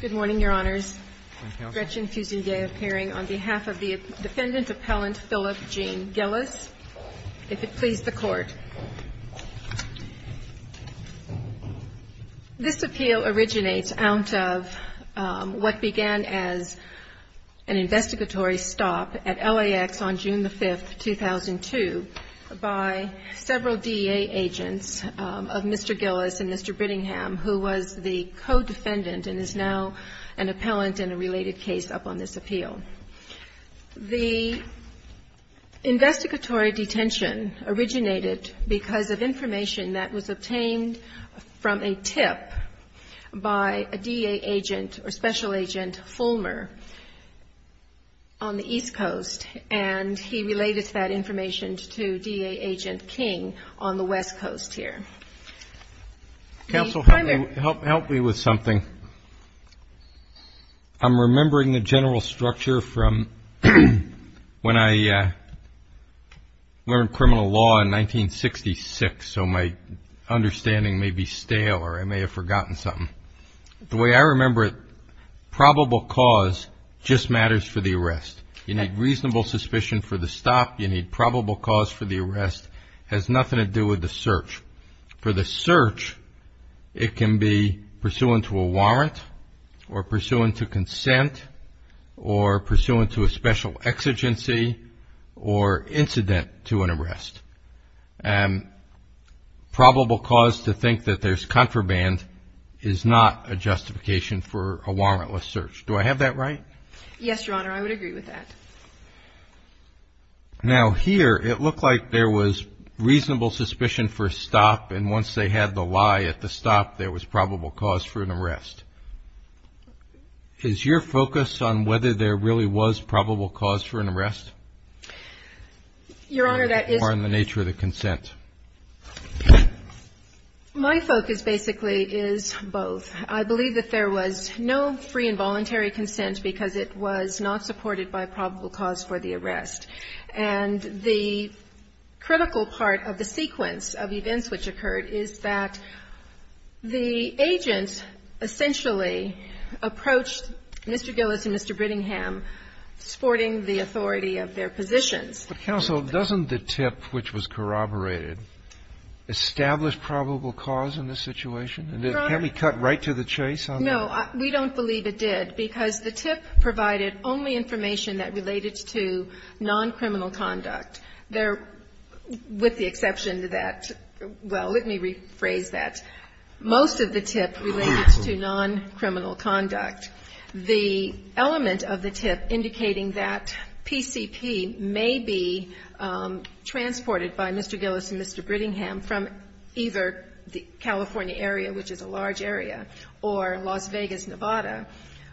Good morning, Your Honors. Gretchen Fusingay, appearing on behalf of the defendant appellant Philip Gene Gilles, if it please the Court. This appeal originates out of what began as an investigatory stop at LAX on June 5, 2002 by several DEA agents of Mr. Gilles and Mr. Brittingham, who was the co-defendant and is now an appellant in a related case up on this appeal. The investigatory detention originated because of information that was obtained from a tip by a DEA agent or special agent, Fulmer, on the East Coast, and he relayed that information to DEA agent King on the West Coast here. MR. BRITTINGHAM Counsel, help me with something. I'm remembering the general structure from when I learned criminal law in 1966, so my understanding may be stale or I may have forgotten something. The way I remember it, probable cause just matters for the arrest. You need reasonable suspicion for the stop, you need probable cause for the arrest, has nothing to do with the search. For the search, it can be pursuant to a warrant or pursuant to consent or pursuant to a special exigency or incident to an arrest. Probable cause to think that there's contraband is not a justification for a warrantless search. Do I have that right? MS. GILLESPIE Yes, Your Honor, I would agree with that. MR. BRITTINGHAM Now here, it looked like there was reasonable suspicion for a stop, and once they had the lie at the stop, there was probable cause for an arrest. Is your focus on whether there really was probable cause for an arrest? MS. GILLESPIE Your Honor, that is my focus. MR. BRITTINGHAM Or on the nature of the consent? MS. GILLESPIE My focus basically is both. I believe that there was no free and voluntary consent because it was not supported by probable cause for the arrest. And the critical part of the sequence of events which occurred is that the agent essentially approached Mr. Gillespie and Mr. Brittingham, supporting the authority of their positions. But counsel, doesn't the tip which was corroborated establish probable cause in this situation? And can't we cut right to the chase on that? MS. GILLESPIE No, we don't believe it did because the tip provided only information that related to non-criminal conduct. There, with the exception that, well, let me rephrase that. Most of the tip related to non-criminal conduct. The element of the tip indicating that PCP may be transported by Mr. Gillespie and Mr. Brittingham from either the California area, which is a large area, or Las Vegas, Nevada,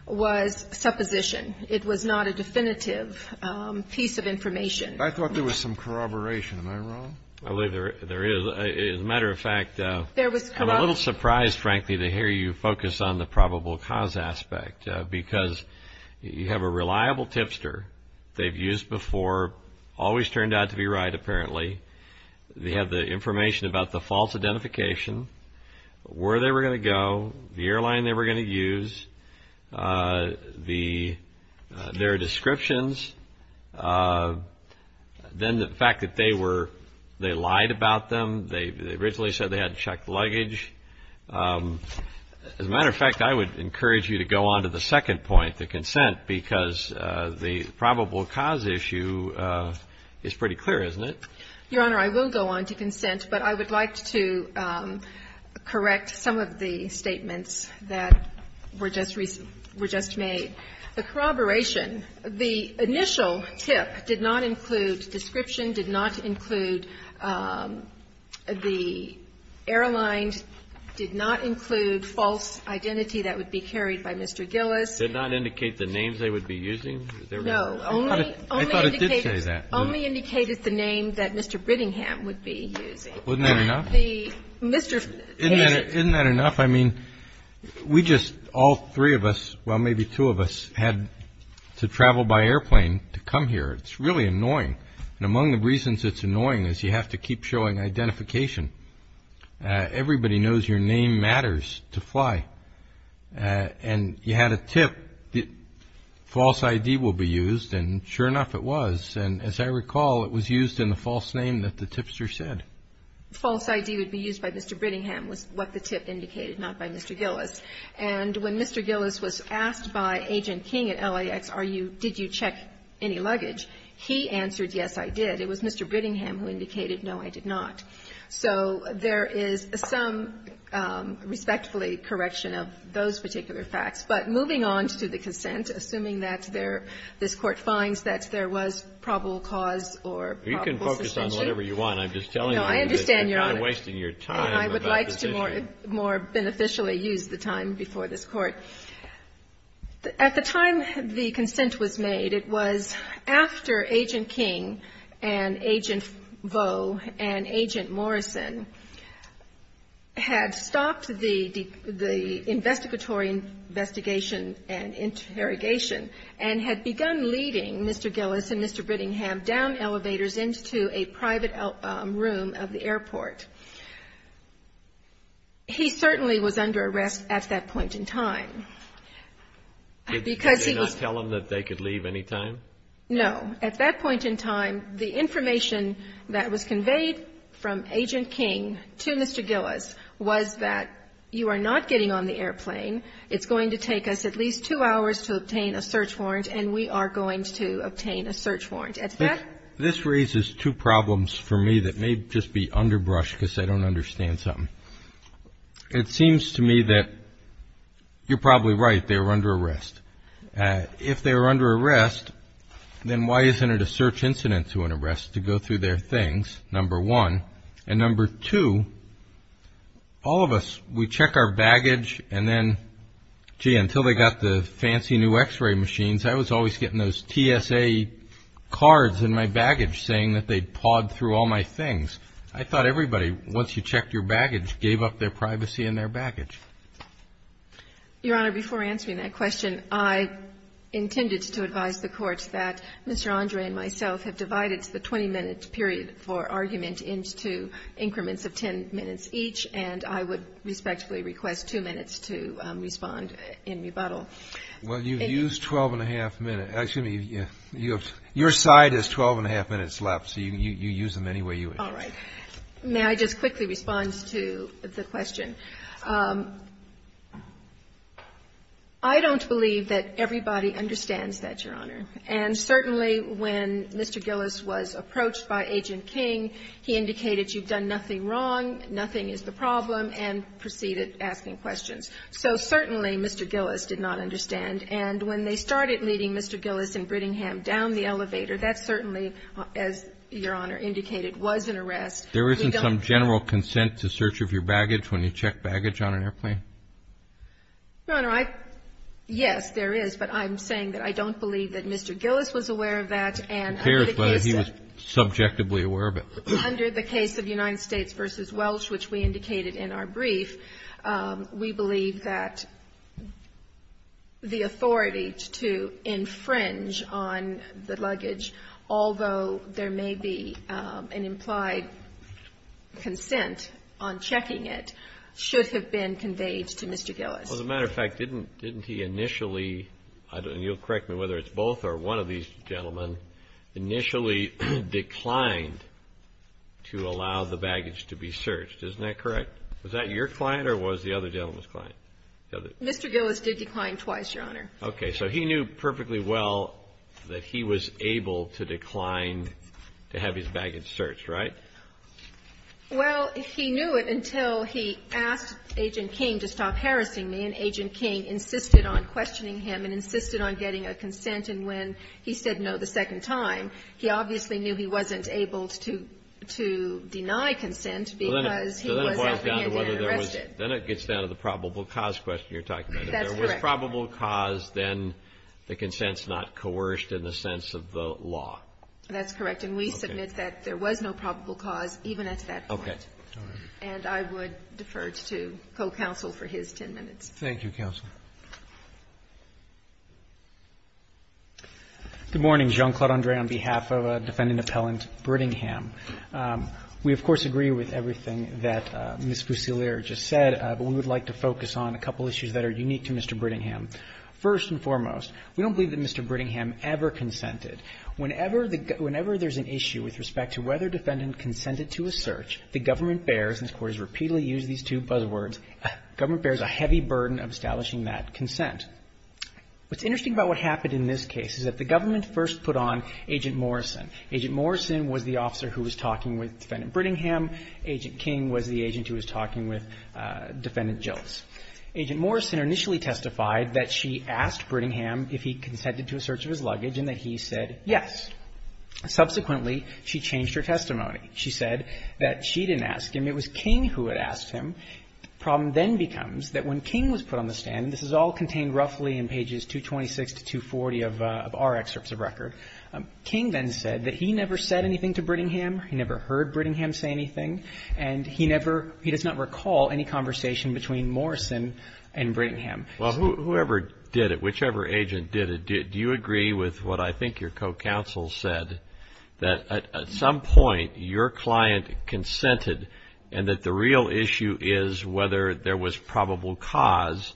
was supposition. It was not a definitive piece of information. MR. BRITTINGHAM I thought there was some corroboration. Am I wrong? MR. GILLESPIE I believe there is. As a matter of fact, I'm a little surprised, frankly, to hear you focus on the probable cause aspect. Because you have a reliable tipster. They've used before, always turned out to be right, apparently. They have the information about the false identification, where they were going to go, the airline they were going to use, their descriptions. Then the fact that they were they lied about them, they originally said they had checked luggage. As a matter of fact, I would encourage you to go on to the second point, the consent, because the probable cause issue is pretty clear, isn't it? MS. GOTTLIEB Your Honor, I will go on to consent, but I would like to correct some of the statements that were just made. The corroboration, the initial tip did not include description, did not include the airline, did not include false identity that would be carried by Mr. Gillespie. MR. GILLESPIE Did not indicate the names they would be using? MS. GOTTLIEB No. Only indicated the name that Mr. Brittingham would be using. MR. GILLESPIE Wasn't that enough? MS. GOTTLIEB Mr. Gillespie. MR. GILLESPIE Isn't that enough? I mean, we just, all three of us, well, maybe two of us, had to travel by airplane to come here. It's really annoying, and among the reasons it's annoying is you have to keep showing identification. Everybody knows your name matters to fly, and you had a tip, false ID will be used, and sure enough it was. And as I recall, it was used in the false name that the tipster said. False ID would be used by Mr. Brittingham was what the tip indicated, not by Mr. Gillespie. And when Mr. Gillespie was asked by Agent King at LAX, are you, did you check any luggage, he answered, yes, I did. It was Mr. Brittingham who indicated, no, I did not. So there is some respectfully correction of those particular facts. But moving on to the consent, assuming that there, this Court finds that there was probable cause or probable suspension. Kennedy, I understand you're on it, and I would like to more beneficially use the time before this Court. At the time the consent was made, it was after Agent King and Agent Vaux and Agent Morrison had stopped the investigatory investigation and interrogation and had begun leading Mr. Gillespie and Mr. Brittingham down elevators into a private room of the airport. He certainly was under arrest at that point in time. Because he was Did they not tell him that they could leave any time? No. At that point in time, the information that was conveyed from Agent King to Mr. Gillespie was that you are not getting on the airplane. It's going to take us at least two hours to obtain a search warrant, and we are going to obtain a search warrant. This raises two problems for me that may just be underbrush because I don't understand something. It seems to me that you're probably right. They were under arrest. If they were under arrest, then why isn't it a search incident to an arrest to go through their things, number one? And number two, all of us, we check our baggage and then, gee, until they got the fancy new x-ray machines, I was always getting those TSA cards in my baggage saying that they pawed through all my things. I thought everybody, once you checked your baggage, gave up their privacy and their baggage. Your Honor, before answering that question, I intended to advise the Court that Mr. Andre and myself have divided the 20-minute period for argument into increments of 10 minutes each, and I would respectfully request two minutes to respond in rebuttal. Well, you've used 12-and-a-half minutes. Excuse me. Your side has 12-and-a-half minutes left, so you use them anyway you wish. All right. May I just quickly respond to the question? I don't believe that everybody understands that, Your Honor. And certainly when Mr. Gillis was approached by Agent King, he indicated you've done nothing wrong, nothing is the problem, and proceeded asking questions. So certainly Mr. Gillis did not understand, and when they started leading Mr. Gillis in Brittingham down the elevator, that certainly, as Your Honor indicated, was an arrest. There isn't some general consent to search of your baggage when you check baggage on an airplane? Your Honor, yes, there is, but I'm saying that I don't believe that Mr. Gillis was aware of that, and under the case of the United States v. Welsh, which we indicated in our brief, we believe that the authority to infringe on the luggage, although there may be an implied consent on checking it, should have been conveyed to Mr. Gillis. Well, as a matter of fact, didn't he initially, and you'll correct me whether it's both or one of these gentlemen, initially declined to allow the baggage to be searched? Isn't that correct? Was that your client or was the other gentleman's client? Mr. Gillis did decline twice, Your Honor. Okay. So he knew perfectly well that he was able to decline to have his baggage searched, right? Well, he knew it until he asked Agent King to stop harassing me, and Agent King insisted on questioning him and insisted on getting a consent. And when he said no the second time, he obviously knew he wasn't able to deny consent because he was apprehended and arrested. Then it gets down to the probable cause question you're talking about. If there was probable cause, then the consent's not coerced in the sense of the law. That's correct, and we submit that there was no probable cause even at that point. Okay. And I would defer to co-counsel for his 10 minutes. Thank you, counsel. Good morning. Jean-Claude André on behalf of Defendant Appellant Brittingham. We, of course, agree with everything that Ms. Fusilier just said, but we would like to focus on a couple issues that are unique to Mr. Brittingham. First and foremost, we don't believe that Mr. Brittingham ever consented. Whenever there's an issue with respect to whether a defendant consented to a search, the government bears, and this Court has repeatedly used these two buzzwords, government bears a heavy burden of establishing that consent. What's interesting about what happened in this case is that the government first put on Agent Morrison. Agent Morrison was the officer who was talking with Defendant Brittingham. Agent King was the agent who was talking with Defendant Jilts. Agent Morrison initially testified that she asked Brittingham if he consented to a search of his luggage and that he said yes. Subsequently, she changed her testimony. She said that she didn't ask him, it was King who had asked him. The problem then becomes that when King was put on the stand, this is all contained roughly in pages 226 to 240 of our excerpts of record, King then said that he never said anything to Brittingham, he never heard Brittingham say anything, and he never, he does not recall any conversation between Morrison and Brittingham. Well, whoever did it, whichever agent did it, do you agree with what I think your co-counsel said, that at some point your client consented and that the real issue is whether there was probable cause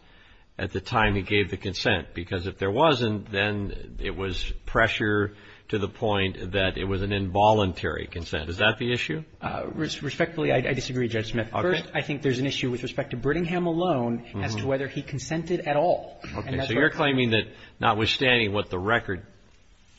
at the time he gave the consent? Because if there wasn't, then it was pressure to the point that it was an involuntary consent. Is that the issue? Respectfully, I disagree, Judge Smith. First, I think there's an issue with respect to Brittingham alone as to whether he consented at all. Okay. So you're claiming that notwithstanding what the record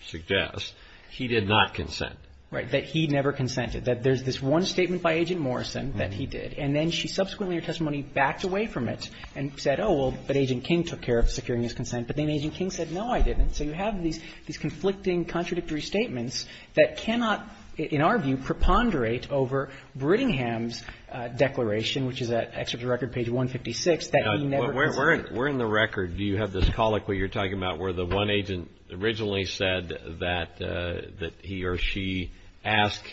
suggests, he did not consent. Right. That he never consented. That there's this one statement by Agent Morrison that he did, and then she subsequently in her testimony backed away from it and said, oh, well, but Agent King took care of securing his consent. But then Agent King said, no, I didn't. So you have these conflicting, contradictory statements that cannot, in our view, preponderate over Brittingham's declaration, which is at excerpt of record page 156, that he never consented. But where in the record do you have this colloquy you're talking about where the one agent originally said that he or she asked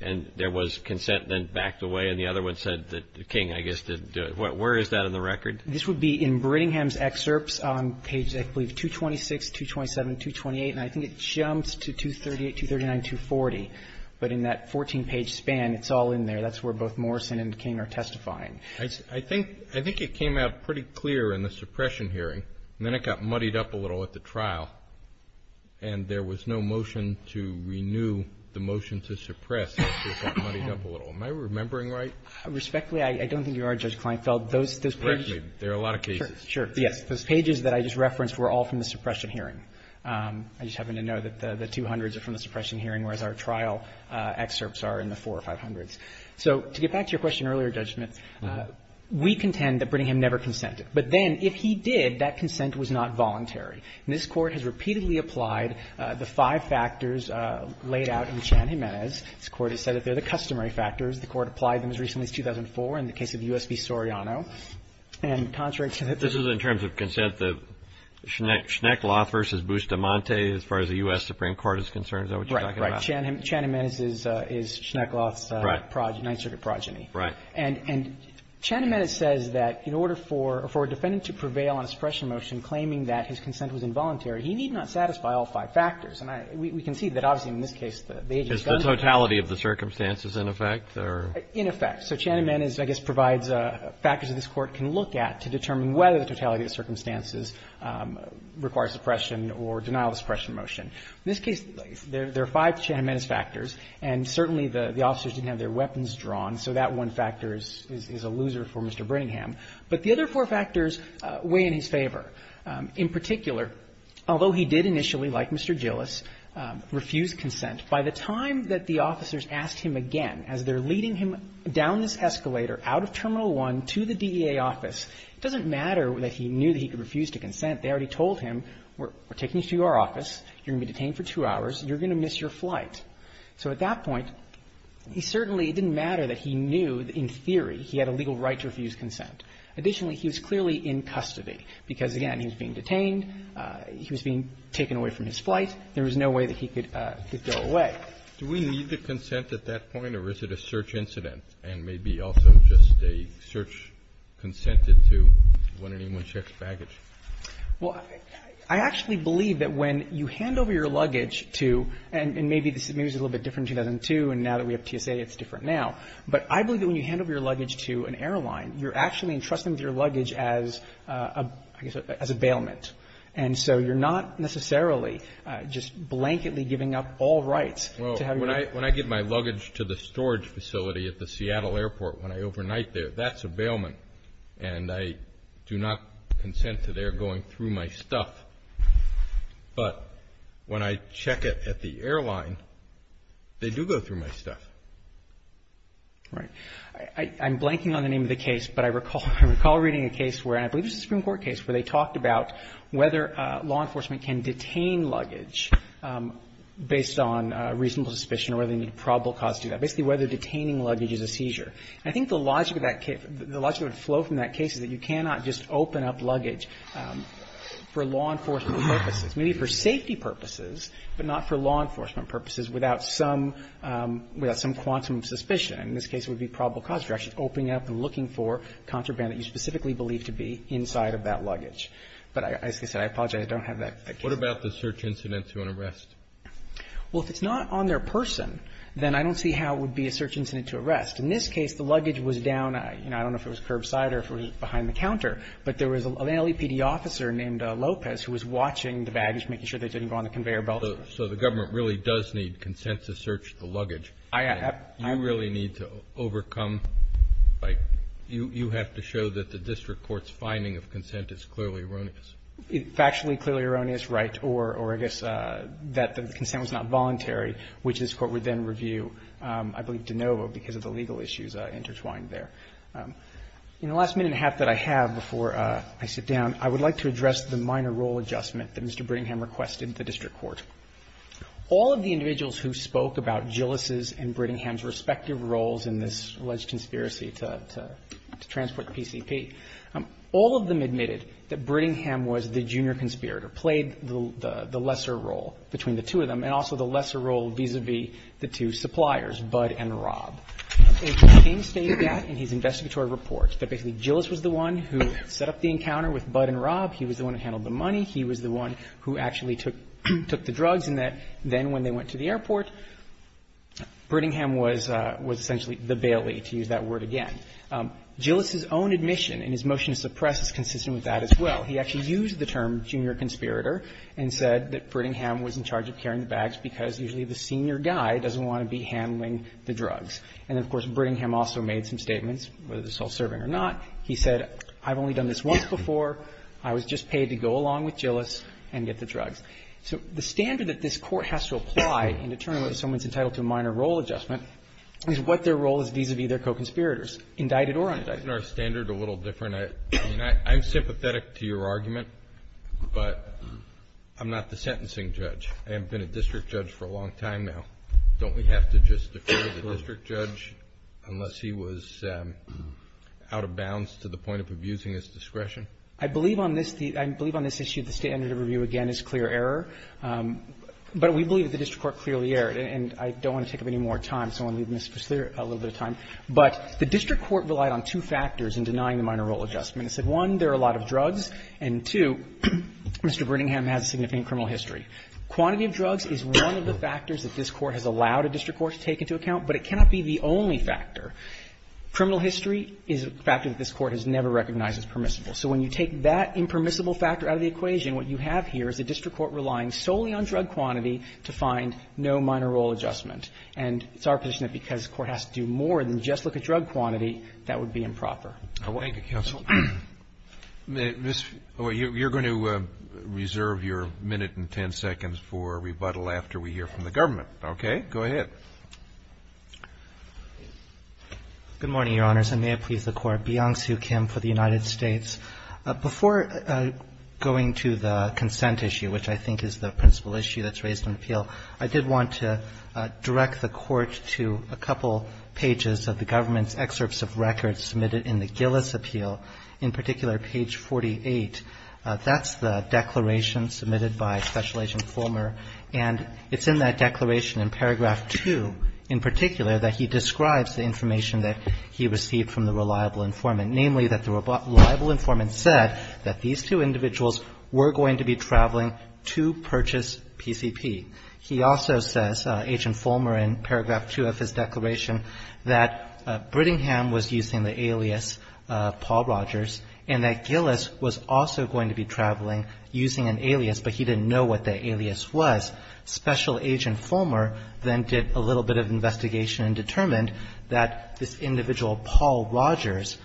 and there was consent, then backed away, and the other one said that King, I guess, didn't do it? Where is that in the record? This would be in Brittingham's excerpts on page, I believe, 226, 227, 228, and I think it jumps to 238, 239, 240. But in that 14-page span, it's all in there. That's where both Morrison and King are testifying. I think it came out pretty clear in the suppression hearing, and then it got muddied up a little at the trial, and there was no motion to renew the motion to suppress. It just got muddied up a little. Am I remembering right? Respectfully, I don't think you are, Judge Kleinfeld. Those pages are all from the suppression hearing. I just happen to know that the 200s are from the suppression hearing, whereas our trial excerpts are in the 400s or 500s. So to get back to your question earlier, Judge Smith, we contend that Brittingham never consented. But then, if he did, that consent was not voluntary. And this Court has repeatedly applied the five factors laid out in Chan-Gimenez. This Court has said that they're the customary factors. The Court applied them as recently as 2004 in the case of U.S. v. Soriano. And contrary to the- This is in terms of consent, the Schneckloth versus Bustamante, as far as the U.S. Supreme Court is concerned, is that what you're talking about? Chan-Gimenez is Schneckloth's progeny, Ninth Circuit progeny. Right. And Chan-Gimenez says that in order for a defendant to prevail on a suppression motion claiming that his consent was involuntary, he need not satisfy all five factors. And we can see that, obviously, in this case, the agency's done that. Is the totality of the circumstances in effect? In effect. So Chan-Gimenez, I guess, provides factors that this Court can look at to determine whether the totality of the circumstances requires suppression or denial of suppression motion. In this case, there are five Chan-Gimenez factors, and certainly the officers didn't have their weapons drawn, so that one factor is a loser for Mr. Brinningham. But the other four factors weigh in his favor. In particular, although he did initially, like Mr. Gillis, refuse consent, by the time that the officers asked him again, as they're leading him down this escalator out of Terminal 1 to the DEA office, it doesn't matter that he knew that he could refuse to consent. They already told him, we're taking you to our office. You're going to be detained for two hours. You're going to miss your flight. So at that point, he certainly didn't matter that he knew, in theory, he had a legal right to refuse consent. Additionally, he was clearly in custody, because, again, he was being detained. He was being taken away from his flight. There was no way that he could go away. Do we need the consent at that point, or is it a search incident and maybe also just a search consented to when anyone checks baggage? Well, I actually believe that when you hand over your luggage to – and maybe this is a little bit different in 2002, and now that we have TSA, it's different now. But I believe that when you hand over your luggage to an airline, you're actually entrusting them with your luggage as a – I guess as a bailment. And so you're not necessarily just blanketly giving up all rights to have your When I get my luggage to the storage facility at the Seattle airport when I overnight there, that's a bailment, and I do not consent to their going through my stuff. But when I check it at the airline, they do go through my stuff. All right. I'm blanking on the name of the case, but I recall reading a case where – and I believe it was a Supreme Court case where they talked about whether law enforcement can detain luggage based on reasonable suspicion or whether they need probable And I think the logic of that case – the logic of the flow from that case is that you cannot just open up luggage for law enforcement purposes, maybe for safety purposes, but not for law enforcement purposes without some – without some quantum of suspicion. In this case, it would be probable cause for actually opening it up and looking for contraband that you specifically believe to be inside of that luggage. But as I said, I apologize, I don't have that case. What about the search incident to an arrest? Well, if it's not on their person, then I don't see how it would be a search incident to arrest. In this case, the luggage was down – I don't know if it was curbside or if it was behind the counter, but there was an LAPD officer named Lopez who was watching the baggage, making sure they didn't go on the conveyor belt. So the government really does need consent to search the luggage. I – I – You really need to overcome – you have to show that the district court's finding of consent is clearly erroneous. It's actually clearly erroneous, right, or I guess that the consent was not voluntary, which this Court would then review, I believe, de novo, because of the legal issues intertwined there. In the last minute and a half that I have before I sit down, I would like to address the minor role adjustment that Mr. Brittingham requested the district court. All of the individuals who spoke about Gillis's and Brittingham's respective roles in this alleged conspiracy to transport the PCP, all of them admitted that Brittingham was the junior conspirator, played the lesser role between the two of them and also the lesser role vis-a-vis the two suppliers, Budd and Robb. And King stated that in his investigatory report, that basically Gillis was the one who set up the encounter with Budd and Robb. He was the one who handled the money. He was the one who actually took the drugs, and that then when they went to the airport, Brittingham was essentially the bailee, to use that word again. Gillis's own admission in his motion to suppress is consistent with that as well. He actually used the term junior conspirator and said that Brittingham was in charge of carrying the bags because usually the senior guy doesn't want to be handling the drugs. And, of course, Brittingham also made some statements, whether they're self-serving or not. He said, I've only done this once before. I was just paid to go along with Gillis and get the drugs. So the standard that this Court has to apply in determining whether someone's entitled to a minor role adjustment is what their role is vis-a-vis their co-conspirators, indicted or unindicted. Kennedy, this is our standard a little different. I mean, I'm sympathetic to your argument, but I'm not the sentencing judge. I haven't been a district judge for a long time now. Don't we have to just declare the district judge unless he was out of bounds to the point of abusing his discretion? I believe on this the – I believe on this issue the standard of review, again, is clear error. But we believe that the district court clearly erred. And I don't want to take up any more time, so I'm going to leave Mr. Spitzley a little bit of time. But the district court relied on two factors in denying the minor role adjustment. It said, one, there are a lot of drugs, and, two, Mr. Brittingham has a significant criminal history. Quantity of drugs is one of the factors that this Court has allowed a district court to take into account, but it cannot be the only factor. Criminal history is a factor that this Court has never recognized as permissible. So when you take that impermissible factor out of the equation, what you have here is a district court relying solely on drug quantity to find no minor role adjustment. And it's our position that because the Court has to do more than just look at drug quantity, that would be improper. Roberts. Thank you, counsel. You're going to reserve your minute and ten seconds for rebuttal after we hear from the government. Okay. Go ahead. Good morning, Your Honors, and may it please the Court. Beyonce Kim for the United States. Before going to the consent issue, which I think is the principal issue that's raised in appeal, I did want to direct the Court to a couple pages of the government's Gillis appeal, in particular, page 48. That's the declaration submitted by Special Agent Fulmer, and it's in that declaration in paragraph 2, in particular, that he describes the information that he received from the reliable informant, namely that the reliable informant said that these two individuals were going to be traveling to purchase PCP. He also says, Agent Fulmer, in paragraph 2 of his declaration, that Brittingham was using the alias Paul Rogers, and that Gillis was also going to be traveling using an alias, but he didn't know what the alias was. Special Agent Fulmer then did a little bit of investigation and determined that this individual, Paul Rogers,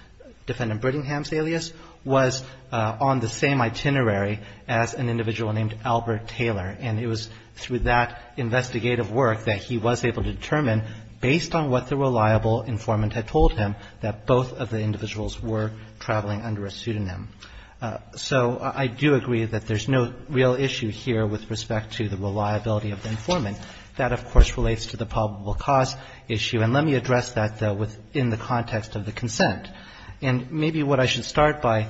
defendant Brittingham's alias, was on the same itinerary as an individual named Albert Taylor. And it was through that investigative work that he was able to determine, based on what the reliable informant had told him, that both of the individuals were traveling under a pseudonym. So I do agree that there's no real issue here with respect to the reliability of the informant. That, of course, relates to the probable cause issue. And let me address that, though, within the context of the consent. And maybe what I should start by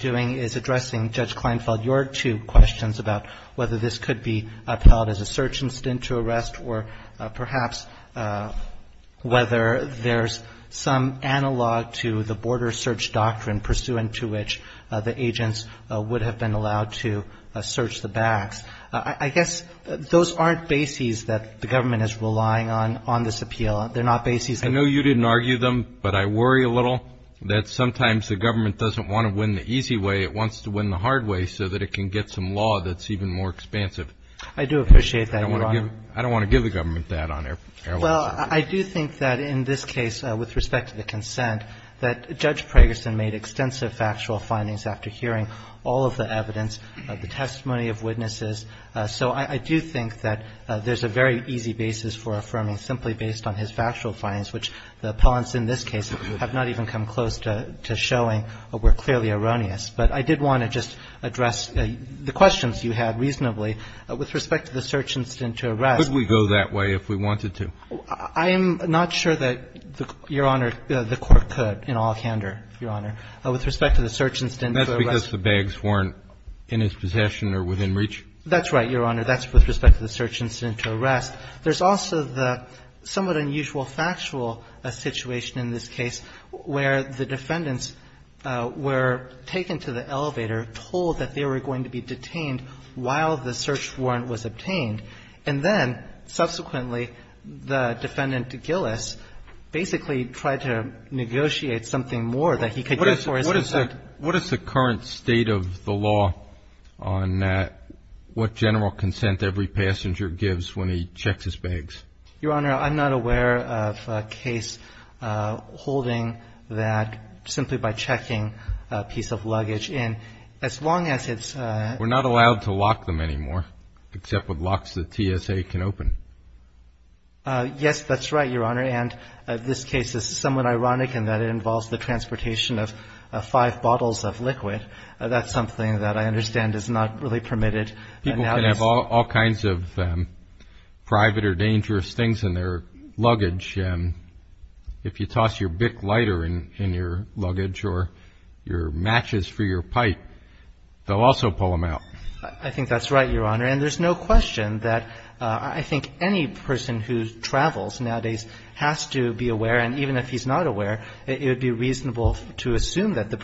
doing is addressing, Judge Kleinfeld, your two questions about whether this could be upheld as a search instinct to arrest, or perhaps whether there's some analog to the border search doctrine pursuant to which the agents would have been allowed to search the bags. I guess those aren't bases that the government is relying on on this appeal. They're not bases. I know you didn't argue them, but I worry a little that sometimes the government doesn't want to win the easy way. It wants to win the hard way so that it can get some law that's even more expansive. I do appreciate that, Your Honor. I don't want to give the government that on airline search. Well, I do think that in this case, with respect to the consent, that Judge Pragerson made extensive factual findings after hearing all of the evidence, the testimony of witnesses. So I do think that there's a very easy basis for affirming simply based on his factual findings, which the appellants in this case have not even come close to showing were clearly erroneous. But I did want to just address the questions you had reasonably. With respect to the search incident to arrest. Could we go that way if we wanted to? I'm not sure that, Your Honor, the Court could in all candor, Your Honor. With respect to the search incident to arrest. That's because the bags weren't in his possession or within reach? That's right, Your Honor. That's with respect to the search incident to arrest. There's also the somewhat unusual factual situation in this case where the defendants were taken to the elevator, told that they were going to be detained while the search warrant was obtained, and then subsequently the defendant, Gillis, basically tried to negotiate something more that he could get for his consent. What is the current state of the law on what general consent every passenger gives when he checks his bags? Your Honor, I'm not aware of a case holding that simply by checking a piece of luggage. And as long as it's. We're not allowed to lock them anymore, except with locks that TSA can open. Yes, that's right, Your Honor. And this case is somewhat ironic in that it involves the transportation of five bottles of liquid. That's something that I understand is not really permitted. People can have all kinds of private or dangerous things in their luggage. If you toss your Bic lighter in your luggage or your matches for your pipe, they'll also pull them out. I think that's right, Your Honor. And there's no question that I think any person who travels nowadays has to be aware, and even if he's not aware, it would be reasonable to assume that the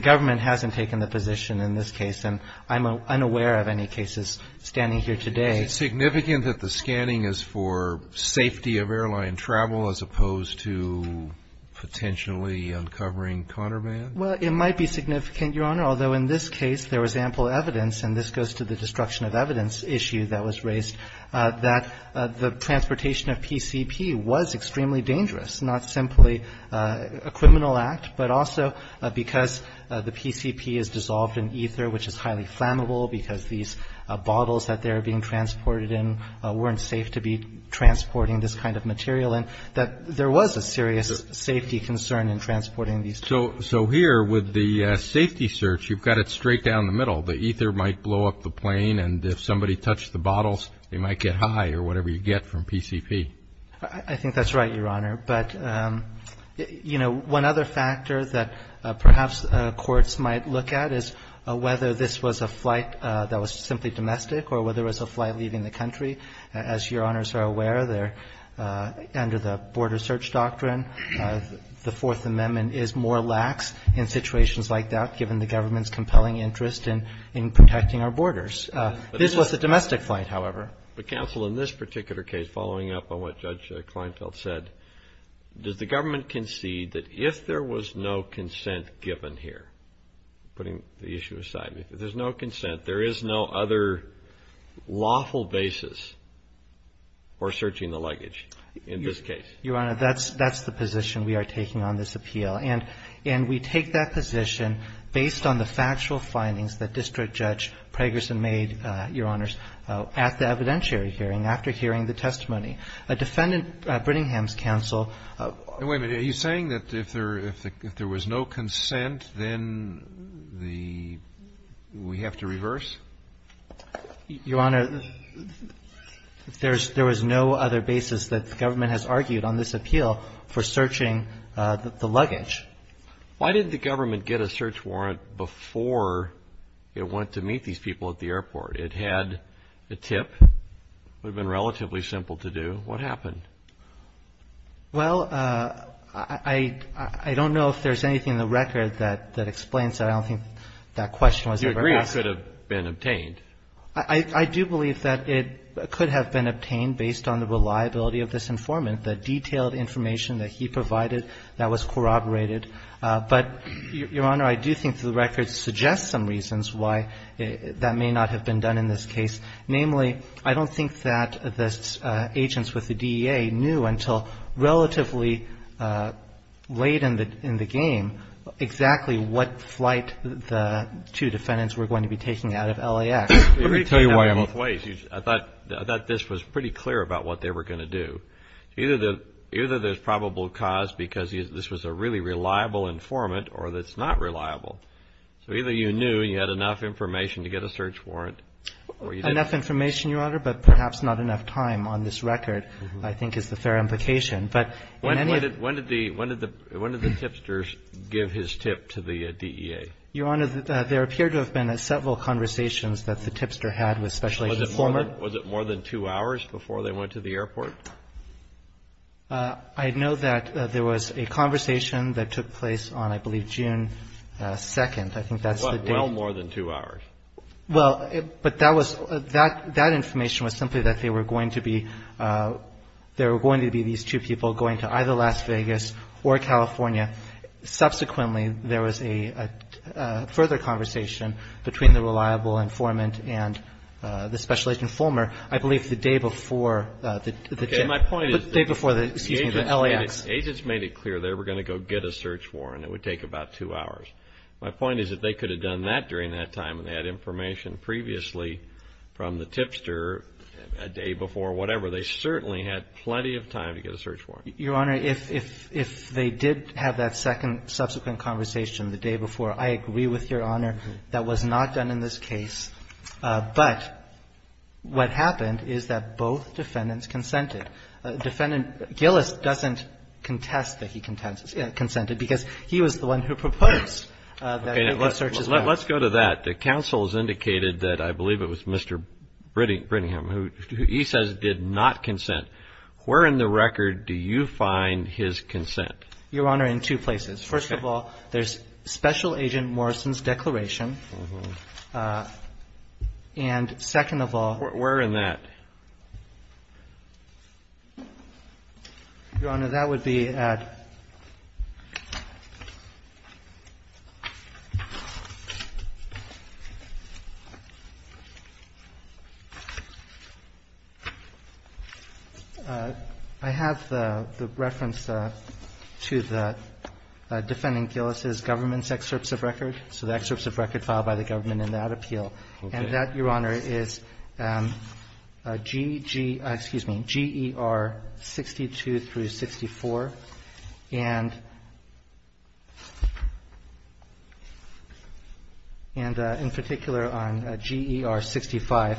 government hasn't taken the position in this case. And I'm unaware of any cases standing here today. Is it significant that the scanning is for safety of airline travel as opposed to potentially uncovering contraband? Well, it might be significant, Your Honor, although in this case there was ample evidence, and this goes to the destruction of evidence issue that was raised, that the transportation of PCP was extremely dangerous, not simply a criminal act, but also because the PCP is dissolved in ether, which is highly flammable, because these bottles that they're being transported in weren't safe to be transporting this kind of material, and that there was a serious safety concern in transporting these. So here, with the safety search, you've got it straight down the middle. The ether might blow up the plane, and if somebody touched the bottles, they might get high or whatever you get from PCP. I think that's right, Your Honor. But, you know, one other factor that perhaps courts might look at is whether this was a flight that was simply domestic or whether it was a flight leaving the country. As Your Honors are aware, under the border search doctrine, the Fourth Amendment is more lax in situations like that, given the government's compelling interest in protecting our borders. This was a domestic flight, however. But, counsel, in this particular case, following up on what Judge Kleinfeld said, does the government concede that if there was no consent given here, putting the issue aside, if there's no consent, there is no other lawful basis for searching the luggage in this case? Your Honor, that's the position we are taking on this appeal. And we take that position based on the factual findings that District Judge Pragerson made, Your Honors, at the evidentiary hearing, after hearing the testimony. A defendant, Briningham's counsel ---- Wait a minute. Are you saying that if there was no consent, then the ---- we have to reverse? Your Honor, there was no other basis that the government has argued on this appeal for searching the luggage. Why didn't the government get a search warrant before it went to meet these people at the airport? It had a tip. It would have been relatively simple to do. What happened? Well, I don't know if there's anything in the record that explains that. I don't think that question was ever asked. You agree it could have been obtained? I do believe that it could have been obtained based on the reliability of this informant, the detailed information that he provided that was corroborated. But, Your Honor, I do think the record suggests some reasons why that may not have been done in this case. Namely, I don't think that the agents with the DEA knew until relatively late in the game exactly what flight the two defendants were going to be taking out of LAX. Let me tell you why I'm ---- I thought this was pretty clear about what they were going to do. Either there's probable cause because this was a really reliable informant or it's not reliable. So either you knew and you had enough information to get a search warrant or you didn't. Enough information, Your Honor, but perhaps not enough time on this record, I think, is the fair implication. But in any of ---- When did the tipsters give his tip to the DEA? Your Honor, there appeared to have been several conversations that the tipster had with Special Agent Foreman. Was it more than two hours before they went to the airport? I know that there was a conversation that took place on, I believe, June 2nd. I think that's the date. Well more than two hours. Well, but that was ---- that information was simply that they were going to be ---- there were going to be these two people going to either Las Vegas or California. Subsequently, there was a further conversation between the reliable informant and the Special Agent Foreman. I believe the day before the tipster, excuse me, the LAX. Agents made it clear they were going to go get a search warrant. It would take about two hours. My point is that they could have done that during that time and had information previously from the tipster a day before, whatever. They certainly had plenty of time to get a search warrant. Your Honor, if they did have that second subsequent conversation the day before, I agree with Your Honor, that was not done in this case. But what happened is that both defendants consented. Defendant Gillis doesn't contest that he consented because he was the one who proposed that he get searches warrant. Let's go to that. The counsel has indicated that I believe it was Mr. Brittingham who he says did not consent. Where in the record do you find his consent? Your Honor, in two places. First of all, there's Special Agent Morrison's declaration. And second of all Where in that? Your Honor, that would be at I have the reference to the defendant Gillis's government's excerpts of record. So the excerpts of record filed by the government in that appeal. And that, Your Honor, is GGR 62 through 64. And in particular on GER 65,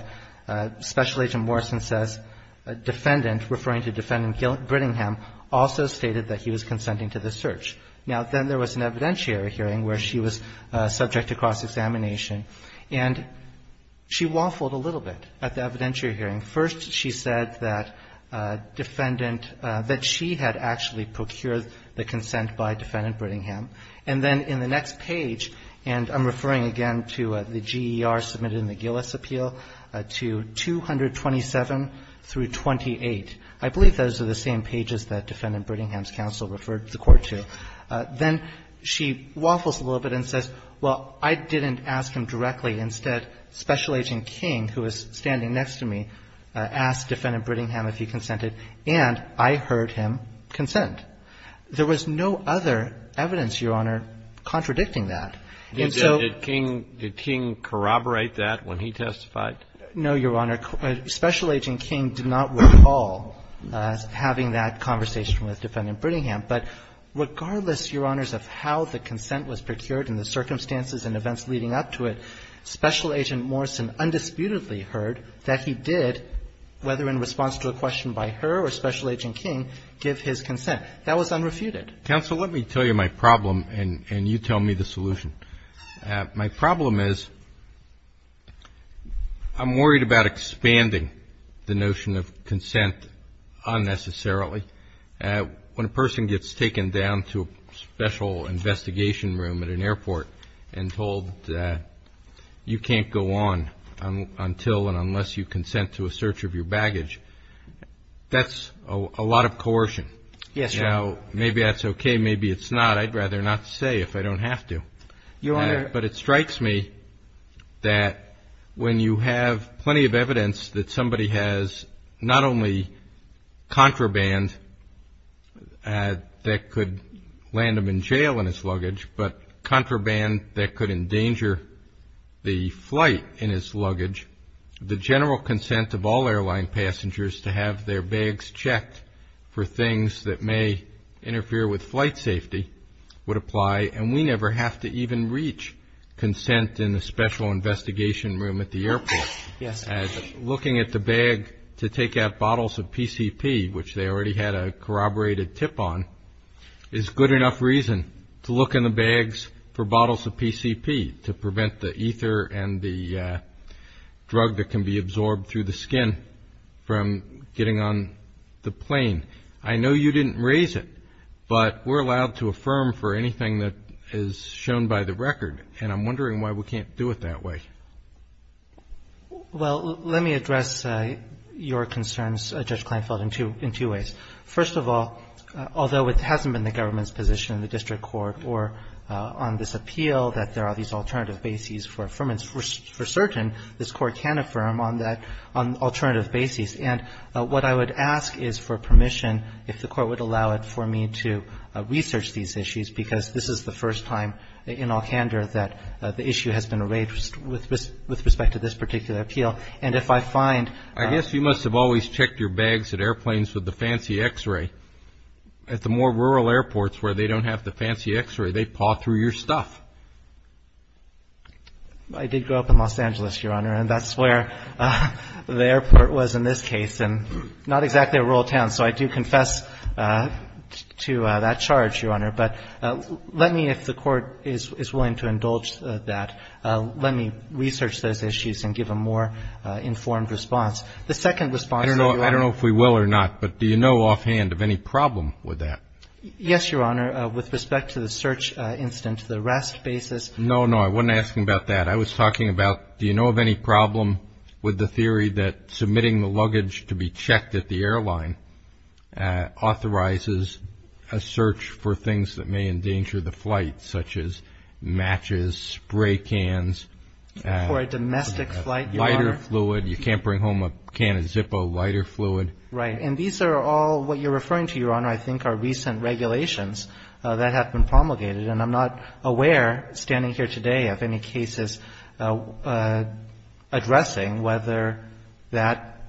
Special Agent Morrison says a defendant, referring to defendant Brittingham, also stated that he was consenting to the search. Now, then there was an evidentiary hearing where she was subject to cross-examination. And she waffled a little bit at the evidentiary hearing. First, she said that defendant that she had actually procured the consent by defendant Brittingham. And then in the next page, and I'm referring again to the GER submitted in the Gillis appeal, to 227 through 28. I believe those are the same pages that defendant Brittingham's counsel referred the court to. Then she waffles a little bit and says, well, I didn't ask him directly. Instead, Special Agent King, who is standing next to me, asked defendant Brittingham if he consented, and I heard him consent. There was no other evidence, Your Honor, contradicting that. And so Did King corroborate that when he testified? No, Your Honor. Special Agent King did not recall having that conversation with defendant Brittingham. But regardless, Your Honors, of how the consent was procured and the circumstances and events leading up to it, Special Agent Morrison undisputedly heard that he did, whether in response to a question by her or Special Agent King, give his consent. That was unrefuted. Counsel, let me tell you my problem, and you tell me the solution. My problem is I'm worried about expanding the notion of consent unnecessarily. When a person gets taken down to a special investigation room at an airport and told you can't go on until and unless you consent to a search of your baggage, that's a lot of coercion. Yes, Your Honor. Now, maybe that's okay. Maybe it's not. I'd rather not say if I don't have to. Your Honor. But it strikes me that when you have plenty of evidence that somebody has not only contraband that could land them in jail in his luggage, but contraband that could endanger the flight in his luggage, the general consent of all airline passengers to have their bags checked for things that may interfere with flight safety would apply, and we never have to even reach consent in the special investigation room at the airport. Yes. And looking at the bag to take out bottles of PCP, which they already had a corroborated tip on, is good enough reason to look in the bags for bottles of PCP to prevent the ether and the drug that can be absorbed through the skin from getting on the plane. I know you didn't raise it, but we're allowed to affirm for anything that is shown by the record, and I'm wondering why we can't do it that way. Well, let me address your concerns, Judge Kleinfeld, in two ways. First of all, although it hasn't been the government's position in the district court or on this appeal that there are these alternative bases for affirmance, for certain, this Court can affirm on that, on alternative bases, and what I would ask is for permission, if the Court would allow it, for me to research these issues, because this is the first time in all candor that the issue has been raised with respect to this particular appeal, and if I find... I guess you must have always checked your bags at airplanes with the fancy X-ray. At the more rural airports where they don't have the fancy X-ray, they paw through your stuff. I did grow up in Los Angeles, Your Honor, and that's where the airport was in this case, and not exactly a rural town, so I do confess to that charge, Your Honor, but let me, if the Court is willing to indulge that, let me research those issues and give a more informed response. The second response... I don't know if we will or not, but do you know offhand of any problem with that? Yes, Your Honor, with respect to the search incident, the rest basis... No, no, I wasn't asking about that. I was talking about, do you know of any problem with the theory that submitting the luggage to be checked at the airline authorizes a search for things that may endanger the flight, such as matches, spray cans... For a domestic flight, Your Honor. Lighter fluid, you can't bring home a can of Zippo lighter fluid. Right, and these are all what you're referring to, Your Honor, I think are recent regulations that have been promulgated, and I'm not aware, standing here today, of any cases addressing whether that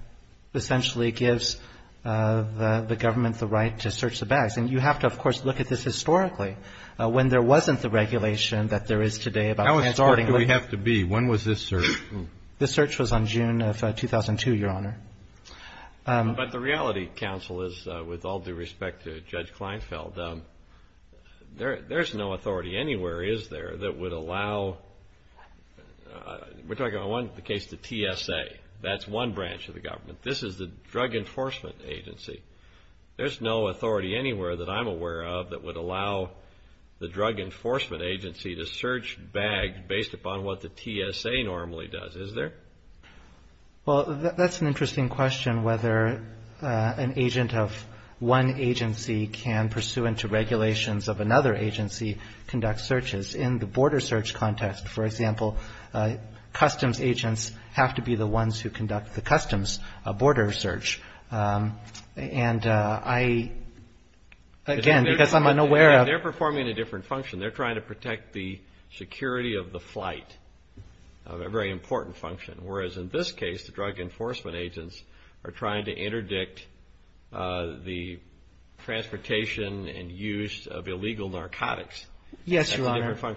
essentially gives the government the right to search the bags, and you have to, of course, look at this historically, when there wasn't the regulation that there is today about transporting... How historic do we have to be? When was this search? This search was on June of 2002, Your Honor. But the reality, counsel, is, with all due respect to Judge Kleinfeld, there's no authority anywhere, is there, that would allow... We're talking about one case, the TSA. That's one branch of the government. This is the Drug Enforcement Agency. There's no authority anywhere that I'm aware of that would allow the Drug Enforcement Agency to search bags based upon what the TSA normally does, is there? Well, that's an interesting question, whether an agent of one agency can, pursuant to regulations of another agency, conduct searches. In the border search context, for example, customs agents have to be the ones who conduct the customs border search. And I, again, because I'm unaware of... They're performing a different function. They're trying to protect the security of the flight, a very important function, whereas in this case, the Drug Enforcement Agents are trying to interdict the transportation and use of illegal narcotics. Yes, Your Honor. That's a different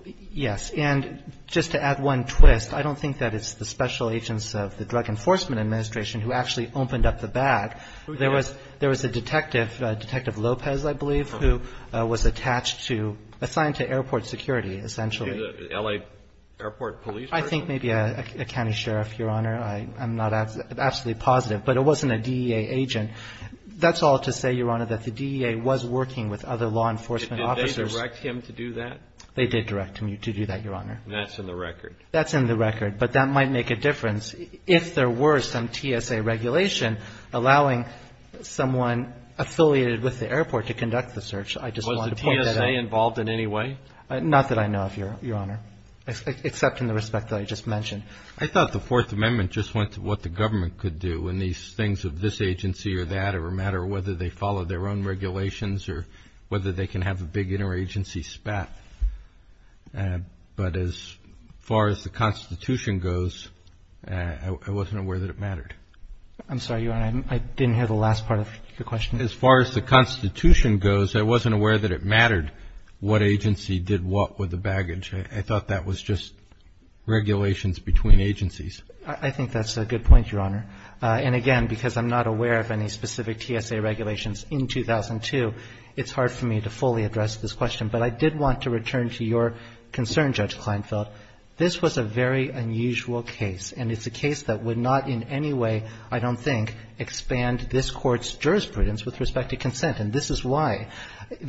function. Yes. And just to add one twist, I don't think that it's the special agents of the Drug Enforcement Administration who actually opened up the bag. Who did? There was a detective, Detective Lopez, I believe, who was attached to, assigned to airport security, essentially. LA airport police person? I think maybe a county sheriff, Your Honor. I'm not absolutely positive. But it wasn't a DEA agent. That's all to say, Your Honor, that the DEA was working with other law enforcement officers. Did they direct him to do that? They did direct him to do that, Your Honor. That's in the record. That's in the record. But that might make a difference if there were some TSA regulation allowing someone affiliated with the airport to conduct the search. I just wanted to point that out. Was the TSA involved in any way? Not that I know of, Your Honor, except in the respect that I just mentioned. I thought the Fourth Amendment just went to what the government could do, and these things of this agency or that, or no matter whether they follow their own regulations or whether they can have a big interagency spat. But as far as the Constitution goes, I wasn't aware that it mattered. I'm sorry, Your Honor. I didn't hear the last part of your question. As far as the Constitution goes, I wasn't aware that it mattered what agency did what with the baggage. I thought that was just regulations between agencies. I think that's a good point, Your Honor. And again, because I'm not aware of any specific TSA regulations in 2002, it's hard for me to fully address this question. But I did want to return to your concern, Judge Kleinfeld. This was a very unusual case, and it's a case that would not in any way, I don't think, expand this Court's jurisprudence with respect to consent, and this is why.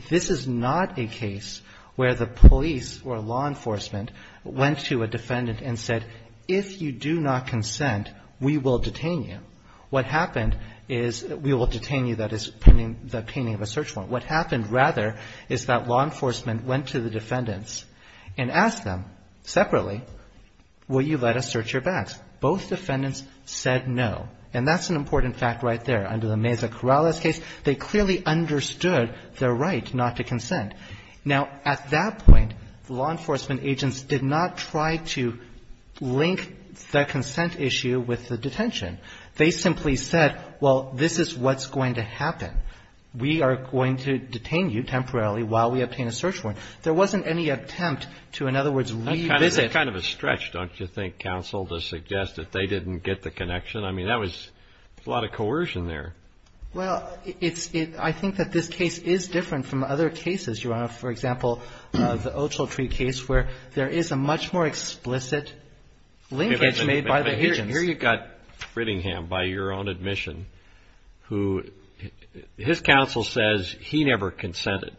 This is not a case where the police or law enforcement went to a defendant and said, if you do not consent, we will detain you. What happened is we will detain you. That is the painting of a search warrant. What happened, rather, is that law enforcement went to the defendants and asked them, separately, will you let us search your bags? Both defendants said no. And that's an important fact right there. Under the Meza-Corrales case, they clearly understood their right not to consent. Now, at that point, law enforcement agents did not try to link the consent issue with the detention. They simply said, well, this is what's going to happen. We are going to detain you temporarily while we obtain a search warrant. There wasn't any attempt to, in other words, revisit the consent issue. That's kind of a stretch, don't you think, counsel, to suggest that they didn't get the connection? I mean, that was a lot of coercion there. Well, it's – I think that this case is different from other cases, Your Honor. For example, the Oceltree case where there is a much more explicit linkage made by the agents. And here you've got Frittingham, by your own admission, who his counsel says he never consented.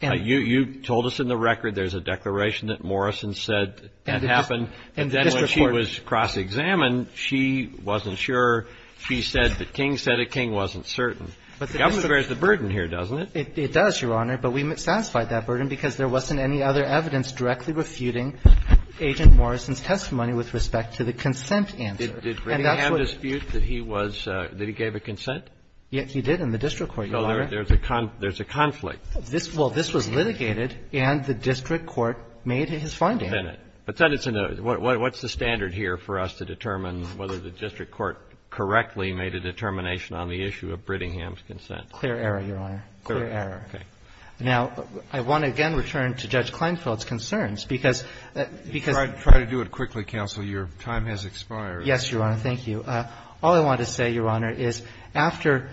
You told us in the record there's a declaration that Morrison said that happened. And then when she was cross-examined, she wasn't sure. She said the king said a king wasn't certain. The government bears the burden here, doesn't it? It does, Your Honor, but we satisfied that burden because there wasn't any other evidence directly refuting Agent Morrison's testimony with respect to the consent answer. And that's what we're going to do. Did Frittingham dispute that he was – that he gave a consent? Yes, he did in the district court, Your Honor. So there's a conflict. Well, this was litigated, and the district court made his finding. But what's the standard here for us to determine whether the district court correctly made a determination on the issue of Frittingham's consent? Clear error, Your Honor, clear error. Okay. Now, I want to again return to Judge Kleinfeld's concerns because – because I'm going to try to do it quickly, counsel. Your time has expired. Yes, Your Honor. Thank you. All I want to say, Your Honor, is after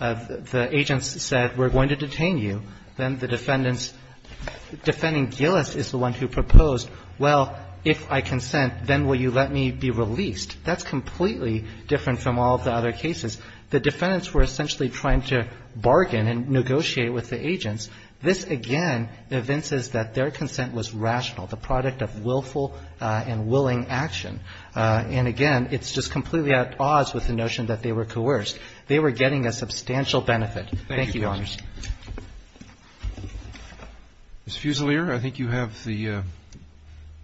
the agents said we're going to detain you, then the defendants – defending Gillis is the one who proposed, well, if I consent, then will you let me be released? That's completely different from all of the other cases. The defendants were essentially trying to bargain and negotiate with the agents. This, again, evinces that their consent was rational, the product of willful and willing action. And again, it's just completely at odds with the notion that they were coerced. They were getting a substantial benefit. Thank you, Your Honor. Thank you, counsel. Ms. Fusilier, I think you have the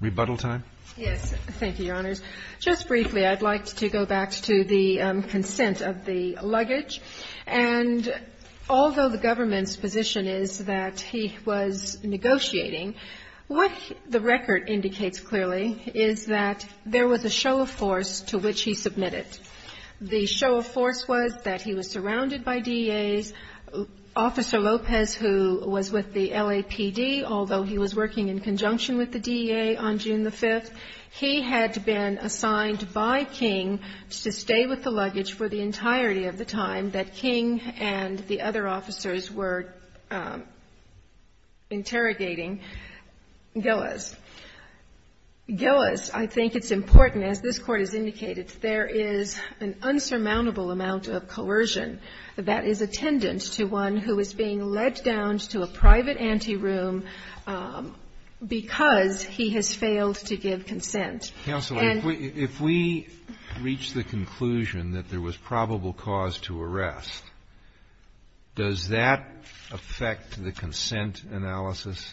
rebuttal time. Yes. Thank you, Your Honors. Just briefly, I'd like to go back to the consent of the luggage. And although the government's position is that he was negotiating, what the record indicates clearly is that there was a show of force to which he submitted. The show of force was that he was surrounded by DEAs. Officer Lopez, who was with the LAPD, although he was working in conjunction with the DEA on June the 5th, he had been assigned by King to stay with the luggage for the entirety of the time that King and the other officers were interrogating Gillis. Gillis, I think it's important, as this Court has indicated, there is an insurmountable amount of coercion that is attendant to one who is being led down to a private anteroom because he has failed to give consent. Counsel, if we reach the conclusion that there was probable cause to arrest, does that affect the consent analysis?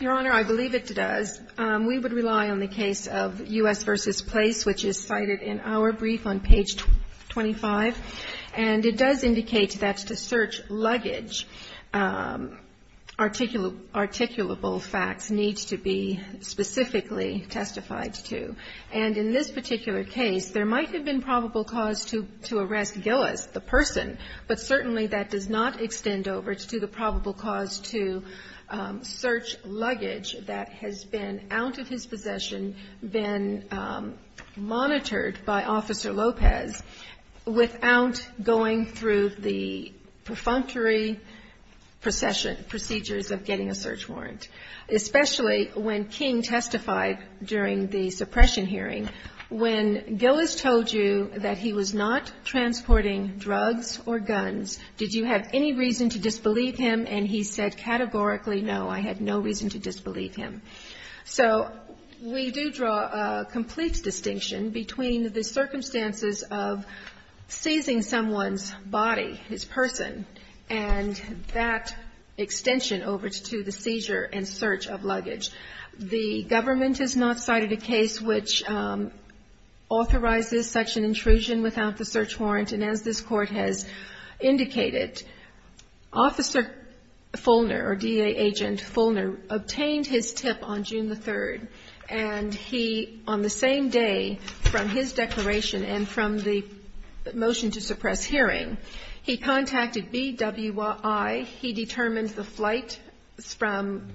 Your Honor, I believe it does. We would rely on the case of U.S. v. Place, which is cited in our brief on page 25. And it does indicate that to search luggage, articulable facts need to be specifically testified to. And in this particular case, there might have been probable cause to arrest Gillis, the person, but certainly that does not extend over to the probable cause to search luggage that has been out of his possession, been monitored by Officer Lopez, without going through the perfunctory procedures of getting a search warrant, especially when King testified during the suppression hearing, when Gillis told you that he was not transporting drugs or guns, did you have any reason to disbelieve him? And he said categorically, no, I had no reason to disbelieve him. So we do draw a complete distinction between the circumstances of seizing someone's body, his person, and that extension over to the seizure and search of luggage. The government has not cited a case which authorizes such an intrusion without the search warrant, and as this Court has indicated, Officer Fulner, or DA Agent Fulner, obtained his tip on June the 3rd, and he, on the same day from his declaration and from the motion to suppress hearing, he contacted BWI, he determined the flight from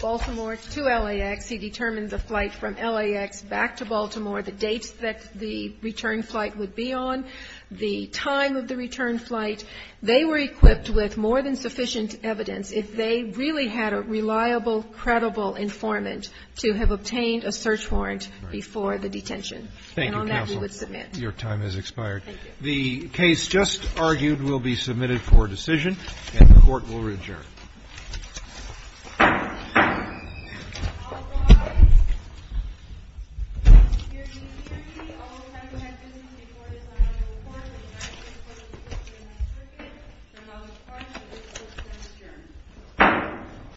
Baltimore to LAX, he determined the flight from LAX back to Baltimore, the dates that the return flight would be on, the time of the return flight. They were equipped with more than sufficient evidence, if they really had a reliable, credible informant, to have obtained a search warrant before the detention. And on that we would submit. Your time has expired. Thank you. The case just argued will be submitted for decision, and the Court will adjourn. All rise. Here to serve me, all those having had business before this line of report, the United States Court of Appeals to the U.S. Circuit. Thank you.